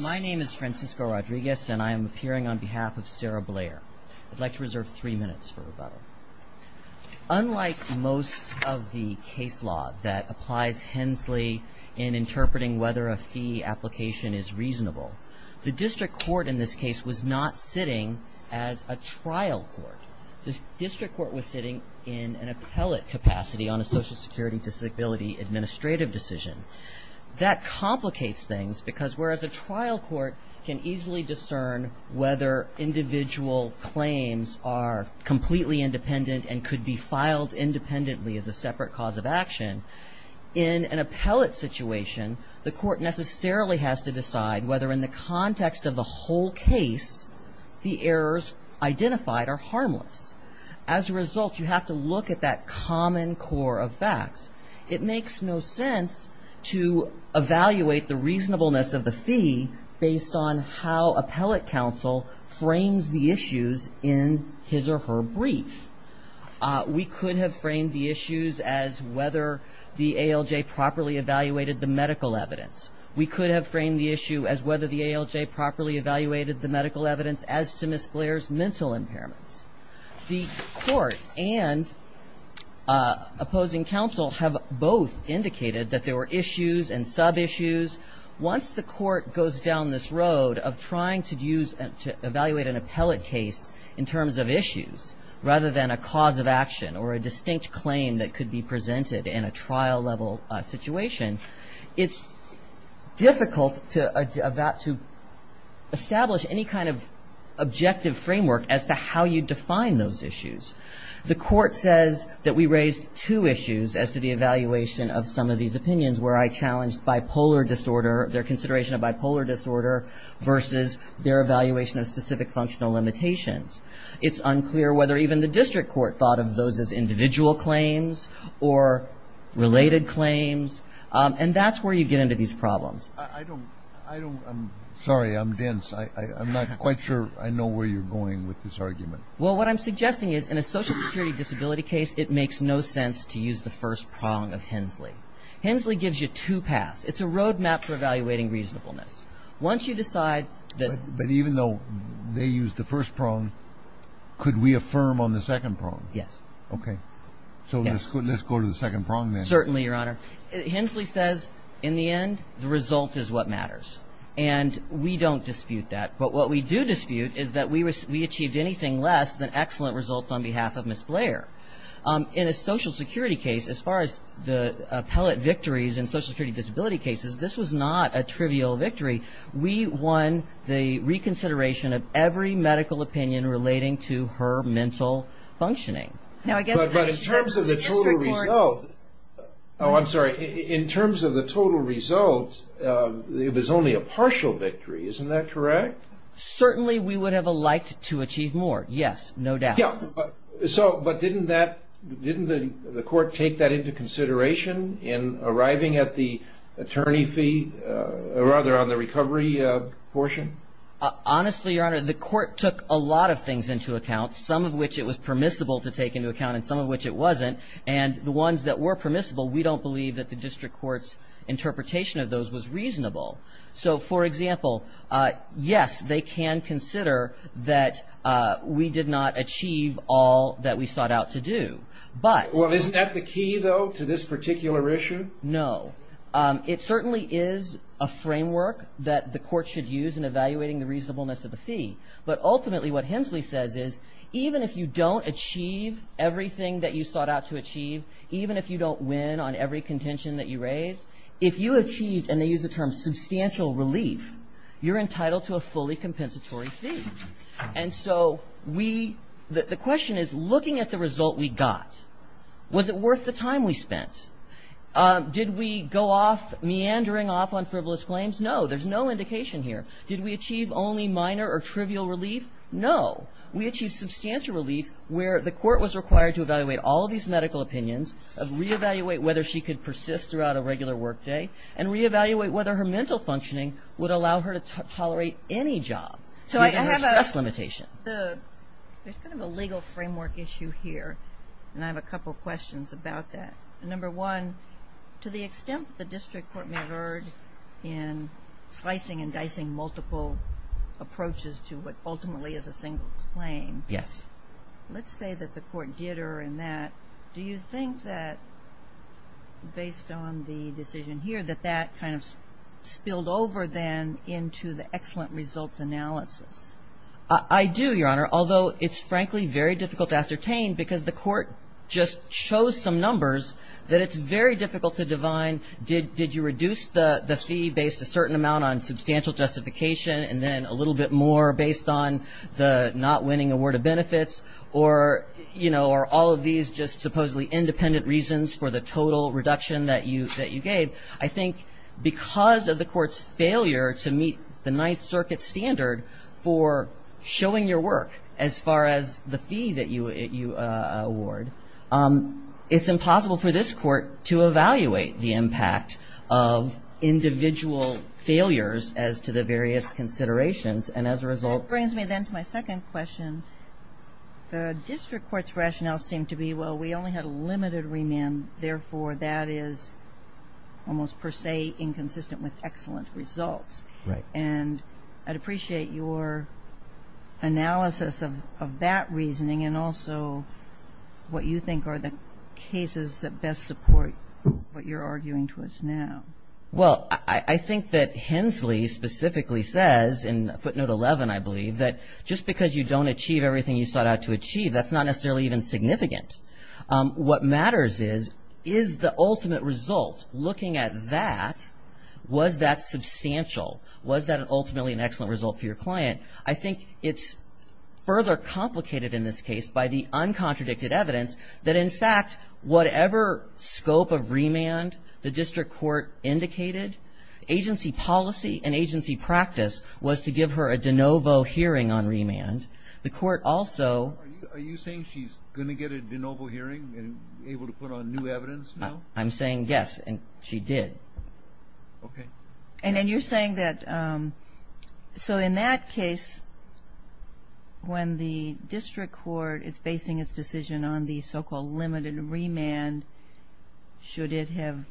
My name is Francisco Rodriguez and I am appearing on behalf of Sarah Blair. I would like to reserve three minutes for rebuttal. Unlike most of the case law that applies hensely in interpreting whether a fee application is reasonable, the district court in this case was not sitting as a trial court. The district court was sitting in an appellate capacity on a social security disability administrative decision. That complicates things because whereas a trial court can easily discern whether individual claims are completely independent and could be filed independently as a separate cause of action, in an appellate situation the court necessarily has to decide whether in the context of the whole case the errors identified are harmless. As a result, you have to look at that common core of facts. It makes no sense to evaluate the reasonableness of the fee based on how appellate counsel frames the issues in his or her brief. We could have framed the issues as whether the ALJ properly evaluated the medical evidence. We could have framed the issue as whether the ALJ properly evaluated the medical evidence as to Ms. Blair's mental impairments. The court and opposing counsel have both indicated that there were issues and sub-issues. Once the court goes down this road of trying to evaluate an appellate case in terms of issues rather than a cause of action or a distinct claim that could be presented in a trial level situation, it's difficult to establish any kind of objective framework as to how you define those issues. The court says that we raised two issues as to the evaluation of some of these opinions where I challenged their consideration of bipolar disorder versus their evaluation of specific functional limitations. It's unclear whether even the district court thought of those as individual claims or related claims. And that's where you get into these problems. I don't, I don't, I'm sorry, I'm dense. I'm not quite sure I know where you're going with this argument. Well, what I'm suggesting is in a social security disability case, it makes no sense to use the first prong of Hensley. Hensley gives you two paths. It's a road map for evaluating reasonableness. Once you decide that But even though they used the first prong, could we affirm on the second prong? Yes. Okay. So let's go to the second prong then. Certainly, Your Honor. Hensley says in the end, the result is what matters. And we don't dispute that. But what we do dispute is that we achieved anything less than excellent results on behalf of Ms. Blair. In a social security case, as far as the appellate victories in social security disability cases, this was not a trivial victory. We won the reconsideration of every medical opinion relating to her mental functioning. Now, I guess But in terms of the total result Oh, I'm sorry. In terms of the total results, it was only a partial victory. Isn't that correct? Certainly, we would have liked to achieve more. Yes, no doubt. Yeah. So, but didn't that, didn't the court take that into consideration in arriving at the attorney fee, or rather on the recovery portion? Honestly, Your Honor, the court took a lot of things into account, some of which it was permissible to take into account and some of which it wasn't. And the ones that were permissible, we don't believe that the district court's interpretation of those was reasonable. So, for example, yes, they can consider that we did not achieve all that we sought out to do. But Well, isn't that the key, though, to this particular issue? No. It certainly is a framework that the court should use in evaluating the reasonableness of the fee. But ultimately, what Hensley says is, even if you don't achieve everything that you sought out to achieve, even if you don't win on every contention that you raise, if you achieved, and they use the term substantial relief, you're entitled to a fully compensatory fee. And so, we, the question is, looking at the result we got, was it worth the time we spent? Did we go off meandering off on frivolous claims? No. There's no indication here. Did we achieve only minor or trivial relief? No. We achieved substantial relief where the court was required to evaluate all of these medical opinions, re-evaluate whether she could persist throughout a regular work day, and re-evaluate whether her mental functioning would allow her to tolerate any job given her stress limitation. There's kind of a legal framework issue here, and I have a couple questions about that. Number one, to the extent that the district court may have erred in slicing and dicing multiple approaches to what ultimately is a single claim, let's say that the court did err in that, do you think that, based on the decision here, that that kind of spilled over then into the excellent results analysis? I do, Your Honor, although it's frankly very difficult to ascertain because the court just chose some numbers that it's very difficult to divine. Did you reduce the fee based a certain amount on substantial justification, and then a little bit more based on the not all of these just supposedly independent reasons for the total reduction that you gave? I think because of the court's failure to meet the Ninth Circuit standard for showing your work as far as the fee that you award, it's impossible for this court to evaluate the impact of individual failures as to the various considerations, and as a result That brings me then to my second question. The district court's rationale seemed to be, well, we only had a limited remand, therefore that is almost per se inconsistent with excellent results. And I'd appreciate your analysis of that reasoning, and also what you think are the cases that best support what you're arguing to us now. Well, I think that Hensley specifically says in footnote 11, I believe, that just because you don't achieve everything you sought out to achieve, that's not necessarily even significant. What matters is, is the ultimate result, looking at that, was that substantial? Was that ultimately an excellent result for your client? I think it's further complicated in this case by the agency policy and agency practice was to give her a de novo hearing on remand. The court also Are you saying she's going to get a de novo hearing and be able to put on new evidence now? I'm saying yes, and she did. And then you're saying that, so in that case, when the district court is basing its decision on the so-called limited remand, should it have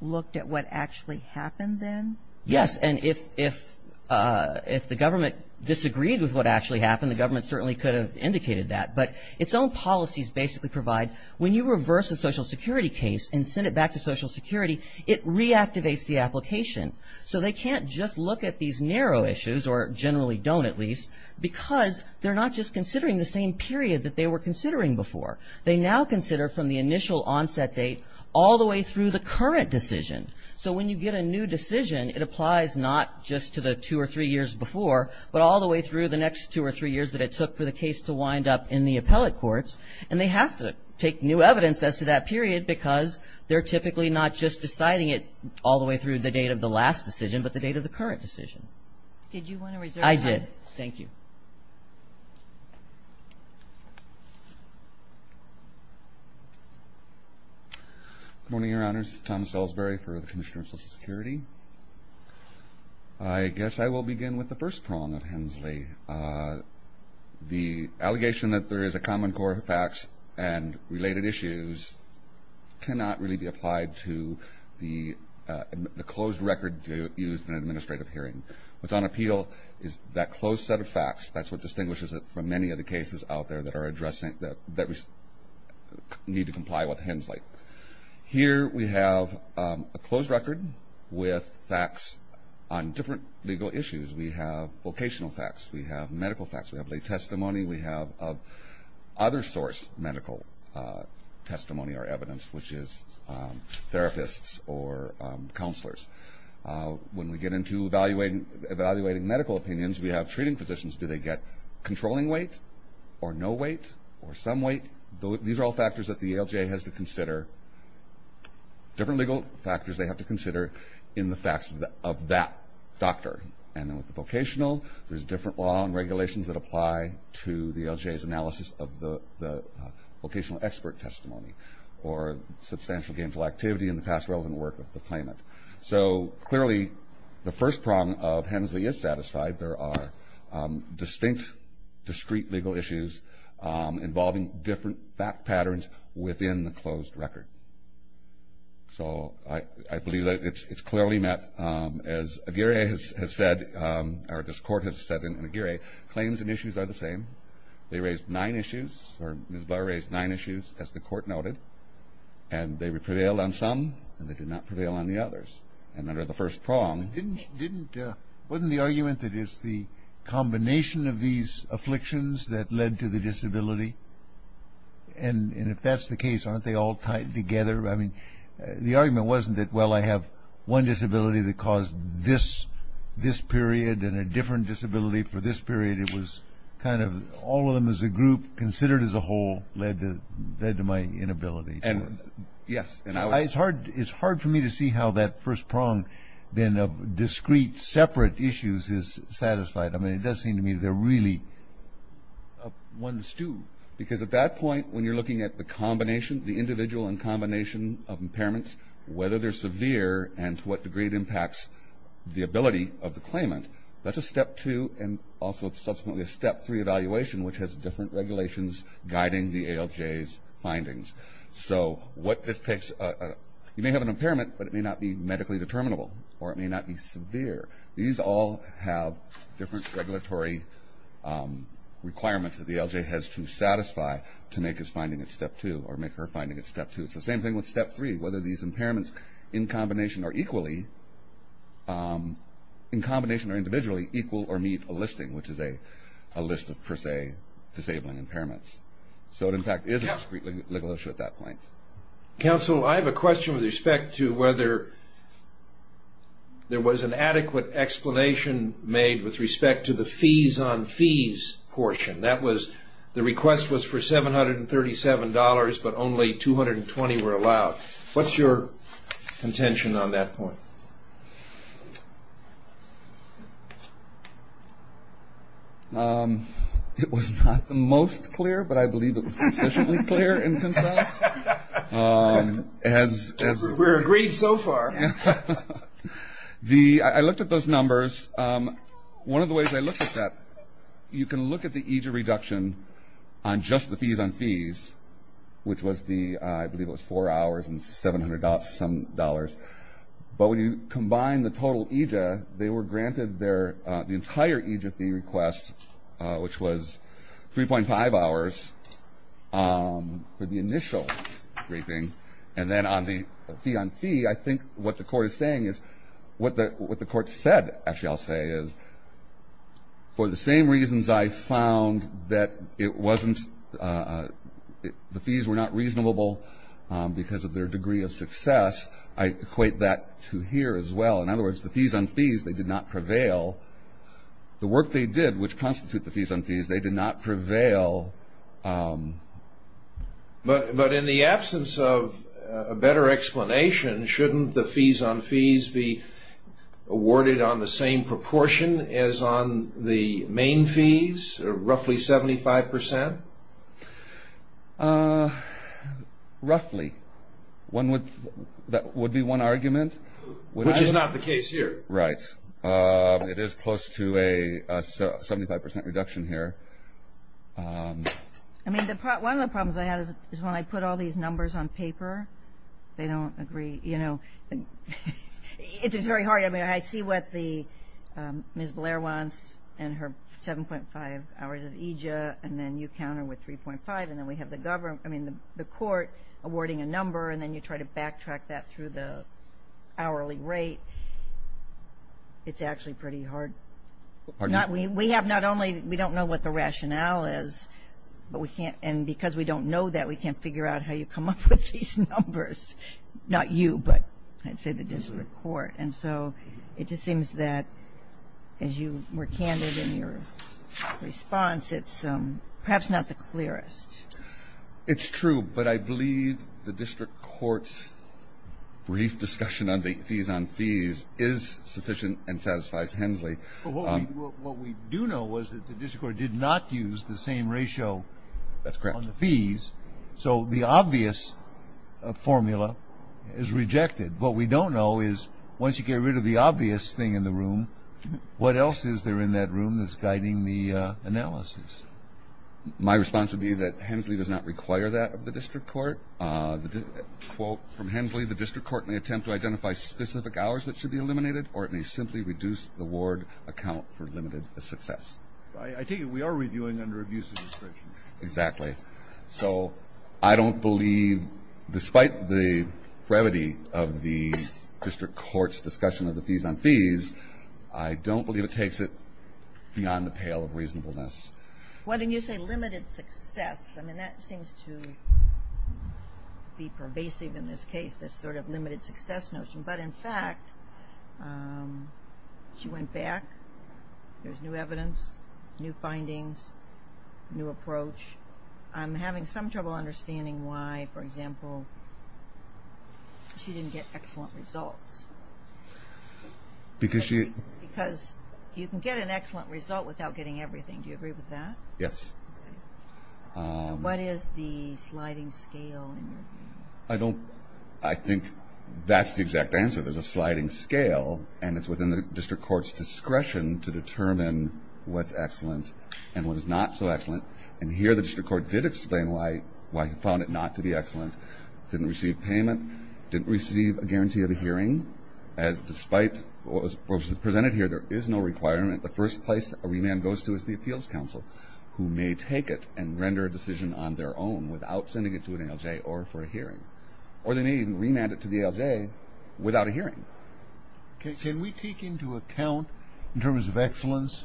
looked at what actually happened then? Yes, and if the government disagreed with what actually happened, the government certainly could have indicated that. But its own policies basically provide, when you reverse a Social Security case and send it back to Social Security, it reactivates the application. So they can't just look at these narrow issues, or generally don't at least, because they're not just considering the same period that they were considering before. They now consider from the initial decision all the way through the current decision. So when you get a new decision, it applies not just to the two or three years before, but all the way through the next two or three years that it took for the case to wind up in the appellate courts. And they have to take new evidence as to that period because they're typically not just deciding it all the way through the date of the last decision, but the date of the current decision. Did you want to reserve time? I did. Thank you. Good morning, Your Honors. Thomas Ellsbury for the Commissioner of Social Security. I guess I will begin with the first prong of Hensley. The allegation that there is a common core of facts and related issues cannot really be applied to the closed record used in an appellate court. That's what distinguishes it from many of the cases out there that need to comply with Hensley. Here we have a closed record with facts on different legal issues. We have vocational facts. We have medical facts. We have lay testimony. We have other source medical testimony or evidence, which is therapists or counselors. When we get into evaluating medical opinions, we have treating physicians. Do they get controlling weight or no weight or some weight? These are all factors that the ALJ has to consider, different legal factors they have to consider in the facts of that doctor. And then with the vocational, there's different law and regulations that apply to the ALJ's analysis of the vocational expert testimony or substantial gainful activity in the past relevant work of the claimant. So clearly, the first prong of Hensley is satisfied. There are distinct, discreet legal issues involving different fact patterns within the closed record. So I believe that it's clearly met. As Aguirre has said, or this court has said in Aguirre, claims and issues are the same. They raise nine issues, or Ms. Blair raised nine issues, as the court noted. And they prevailed on some, and they did not prevail on the others. And under the first prong... Didn't, wasn't the argument that it's the combination of these afflictions that led to the disability? And if that's the case, aren't they all tied together? I mean, the argument wasn't that, well, I have one disability that caused this, this period and a different disability for this period. It was kind of all of them as a group considered as a whole led to, led to my inability. And, yes, and I was... It's hard, it's hard for me to see how that first prong, then, of discreet separate issues is satisfied. I mean, it does seem to me they're really up one to two. Because at that point, when you're looking at the combination, the individual and combination of impairments, whether they're severe and to what degree it impacts the ability of the claimant, that's a step two, and also subsequently a step three evaluation, which has different regulations guiding the ALJ's findings. So what this takes, you may have an impairment, but it may not be medically determinable, or it may not be severe. These all have different regulatory requirements that the ALJ has to satisfy to make his finding a step two, or make her finding a step two. It's the same thing with step three, whether these impairments in combination or equally, in combination or individually, equal or meet a listing, which is a list of, per se, disabling impairments. So it, in fact, is a discreet legal issue at that point. Counsel, I have a question with respect to whether there was an adequate explanation made with respect to the fees on fees portion. That was, the request was for $737, but only $220 were allowed. What's your contention on that point? It was not the most clear, but I believe it was sufficiently clear in consense. We're agreed so far. I looked at those numbers. One of the ways I looked at that, you can look at the EJ reduction on just the fees on fees, which was the, I believe it was four hours and $700 some dollars. But when you combine the total EJ, they were granted their, the entire EJ fee request, which was 3.5 hours for the initial briefing. And then on the fee on fee, I think what the court is saying is, what the court said, actually I'll say is, for the same reasons I found that it wasn't, the fees were not reasonable because of their degree of success. I equate that to here as well. In other words, the fees on fees, they did not prevail. The work they did, which constitute the fees on fees, they did not prevail. But in the absence of a better explanation, shouldn't the fees on fees be awarded on the same proportion as on the main fees, roughly 75%? Roughly. That would be one argument. Which is not the case here. Right. It is close to a 75% reduction here. I mean, one of the problems I had is when I put all these numbers on paper, they don't agree. You know, it's very hard. I mean, I see what the, Ms. Blair wants and her 7.5 hours of EJ, and then you count her with 3.5, and then we have the government, I mean, the court awarding a number, and then you try to backtrack that through the hourly rate. It's actually pretty hard. We have not only, we don't know what the rationale is, but we can't, and because we don't know that, we can't figure out how you come up with these numbers. Not you, but I'd say the district court. And so it just seems that, as you were candid in your response, it's perhaps not the clearest. It's true, but I believe the district court's brief discussion on the fees on fees is sufficient and satisfies Hensley. What we do know is that the district court did not use the same ratio on the fees. So the obvious formula is rejected. What we don't know is, once you get rid of the obvious thing in the room, what else is there in that room that's guiding the analysis? My response would be that Hensley does not require that of the district court. Quote from Hensley, the district court may attempt to identify specific hours that should be eliminated or it may simply reduce the ward account for limited success. I take it we are reviewing under abuse of discretion. Exactly. So I don't believe, despite the brevity of the district court's discussion of the fees on fees, I don't believe it takes it beyond the pale of reasonableness. When you say limited success, that seems to be pervasive in this case, this sort of limited success notion. But in fact, she went back, there's new evidence, new findings, new approaches, I'm having some trouble understanding why, for example, she didn't get excellent results. Because you can get an excellent result without getting everything. Do you agree with that? Yes. So what is the sliding scale? I think that's the exact answer. There's a sliding scale and it's within the district court's discretion to determine what's excellent and what is not so excellent. And here the district court did explain why he found it not to be excellent. Didn't receive payment. Didn't receive a guarantee of a hearing. As despite what was presented here, there is no requirement. The first place a remand goes to is the appeals council, who may take it and render a decision on their own without sending it to an ALJ or for a hearing. Or they may even remand it to the ALJ without a hearing. Can we take into account, in terms of excellence,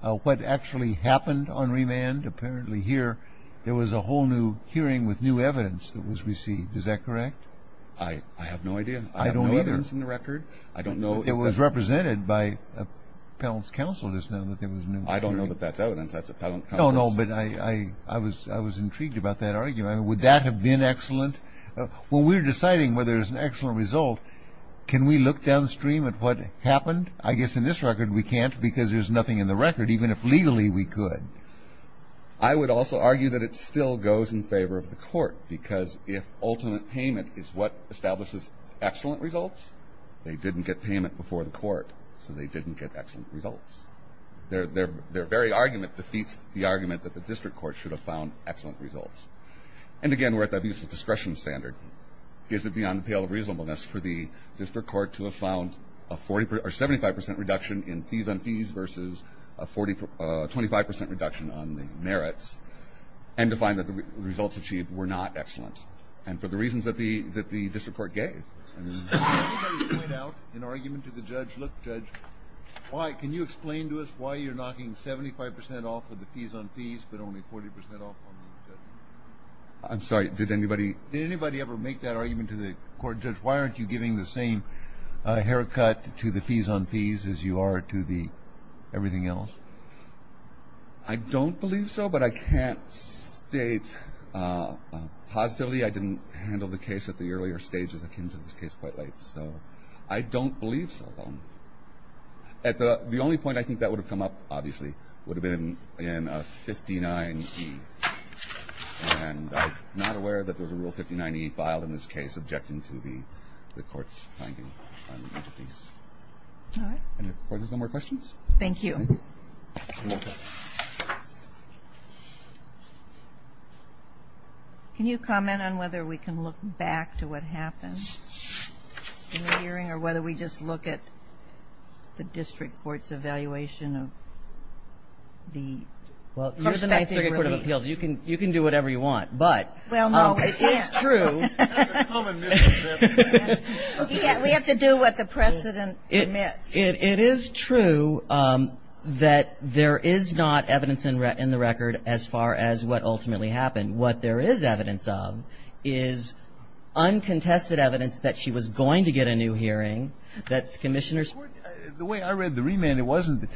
what actually happened on remand? Apparently here there was a whole new hearing with new evidence that was received. Is that correct? I have no idea. I have no evidence in the record. I don't know. It was represented by appellant's counsel just now that there was a new hearing. I don't know that that's evidence. That's appellant counsel's... No, no, but I was intrigued about that argument. Would that have been excellent? When we're deciding whether there's an excellent result, can we look downstream at what happened? I guess in this record we can't because there's nothing in the record, even if legally we could. I would also argue that it still goes in favor of the court because if ultimate payment is what establishes excellent results, they didn't get payment before the court, so they didn't get excellent results. Their very argument defeats the argument that the district court should have found excellent results. And, again, we're at the abusive discretion standard. Is it beyond the pale of reasonableness for the district court to have found a 75 percent reduction in fees on fees versus a 25 percent reduction on the merits and to find that the results achieved were not excellent? And for the reasons that the district court gave. Can you point out an argument to the judge? Look, judge, can you explain to us why you're knocking 75 percent off of the fees on fees, but only 40 percent off on the fees? I'm sorry, did anybody ever make that argument to the court? Judge, why aren't you giving the same haircut to the fees on fees as you are to the everything else? I don't believe so, but I can't state positively. I didn't handle the case at the earlier stages. I came to this case quite late, so I don't believe so. At the only point I think that would have come up, obviously, would have been in 59E. And I'm not aware that there's a Rule 59E filed in this case objecting to the court's finding on the fees. All right. And if the Court has no more questions. Thank you. Thank you. Thank you. Can you comment on whether we can look back to what happened in the hearing or whether we just look at the district court's evaluation of the prospective relief? Well, you're the Ninth Circuit Court of Appeals. You can do whatever you want, but it is true. Well, no, we can't. That's a common misconception. We have to do what the precedent permits. It is true that there is not evidence in the record as far as what ultimately happened. What there is evidence of is uncontested evidence that she was going to get a new hearing, that the commissioners ---- The way I read the remand, it wasn't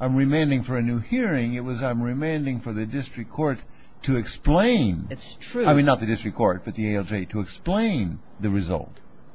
I'm remanding for a new hearing. It was I'm remanding for the district court to explain. It's true. I mean, not the district court, but the ALJ, to explain the result.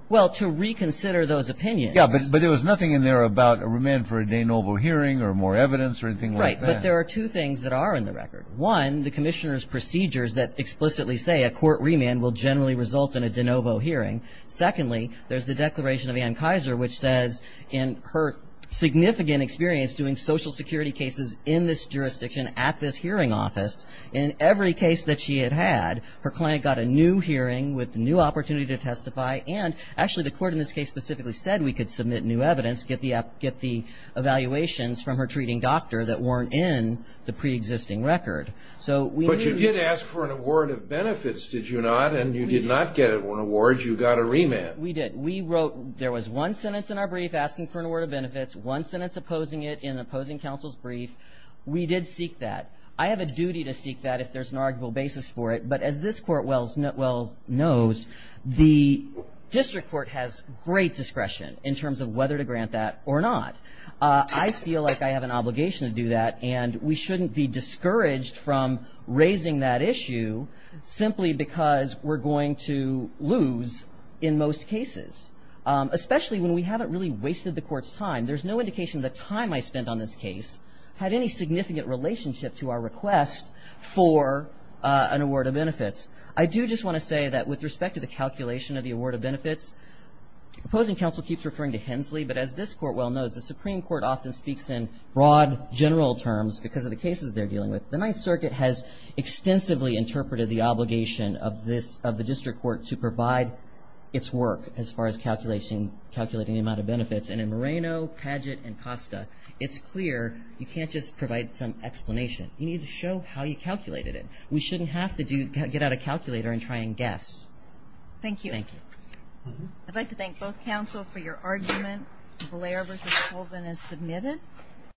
Well, to reconsider those opinions. Yeah, but there was nothing in there about a remand for a de novo hearing or more evidence or anything like that. Right, but there are two things that are in the record. One, the commissioner's procedures that explicitly say a court remand will generally result in a de novo hearing. Secondly, there's the declaration of Ann Kaiser, which says in her significant experience doing Social Security cases in this jurisdiction at this hearing office, in every case that she had had, her client got a new hearing with a new opportunity to testify, and actually the court in this case specifically said we could submit new evidence, get the evaluations from her treating doctor that weren't in the preexisting record. So we knew ---- But you did ask for an award of benefits, did you not? And you did not get an award. You got a remand. We did. We wrote ---- there was one sentence in our brief asking for an award of benefits, one sentence opposing it in opposing counsel's brief. We did seek that. I have a duty to seek that if there's an arguable basis for it. But as this court well knows, the district court has great discretion in terms of whether to grant that or not. I feel like I have an obligation to do that, and we shouldn't be discouraged from raising that issue simply because we're going to lose in most cases, especially when we haven't really wasted the court's time. There's no indication the time I spent on this case had any significant relationship to our request for an award of benefits. I do just want to say that with respect to the calculation of the award of benefits, opposing counsel keeps referring to Hensley, but as this court well knows, the Supreme Court often speaks in broad general terms because of the cases they're dealing with. The Ninth Circuit has extensively interpreted the obligation of the district court to provide its work as far as calculating the amount of benefits. And in Moreno, Padgett, and Costa, it's clear you can't just provide some explanation. You need to show how you calculated it. We shouldn't have to get out a calculator and try and guess. Thank you. Thank you. I'd like to thank both counsel for your argument. Valera v. Colvin is submitted.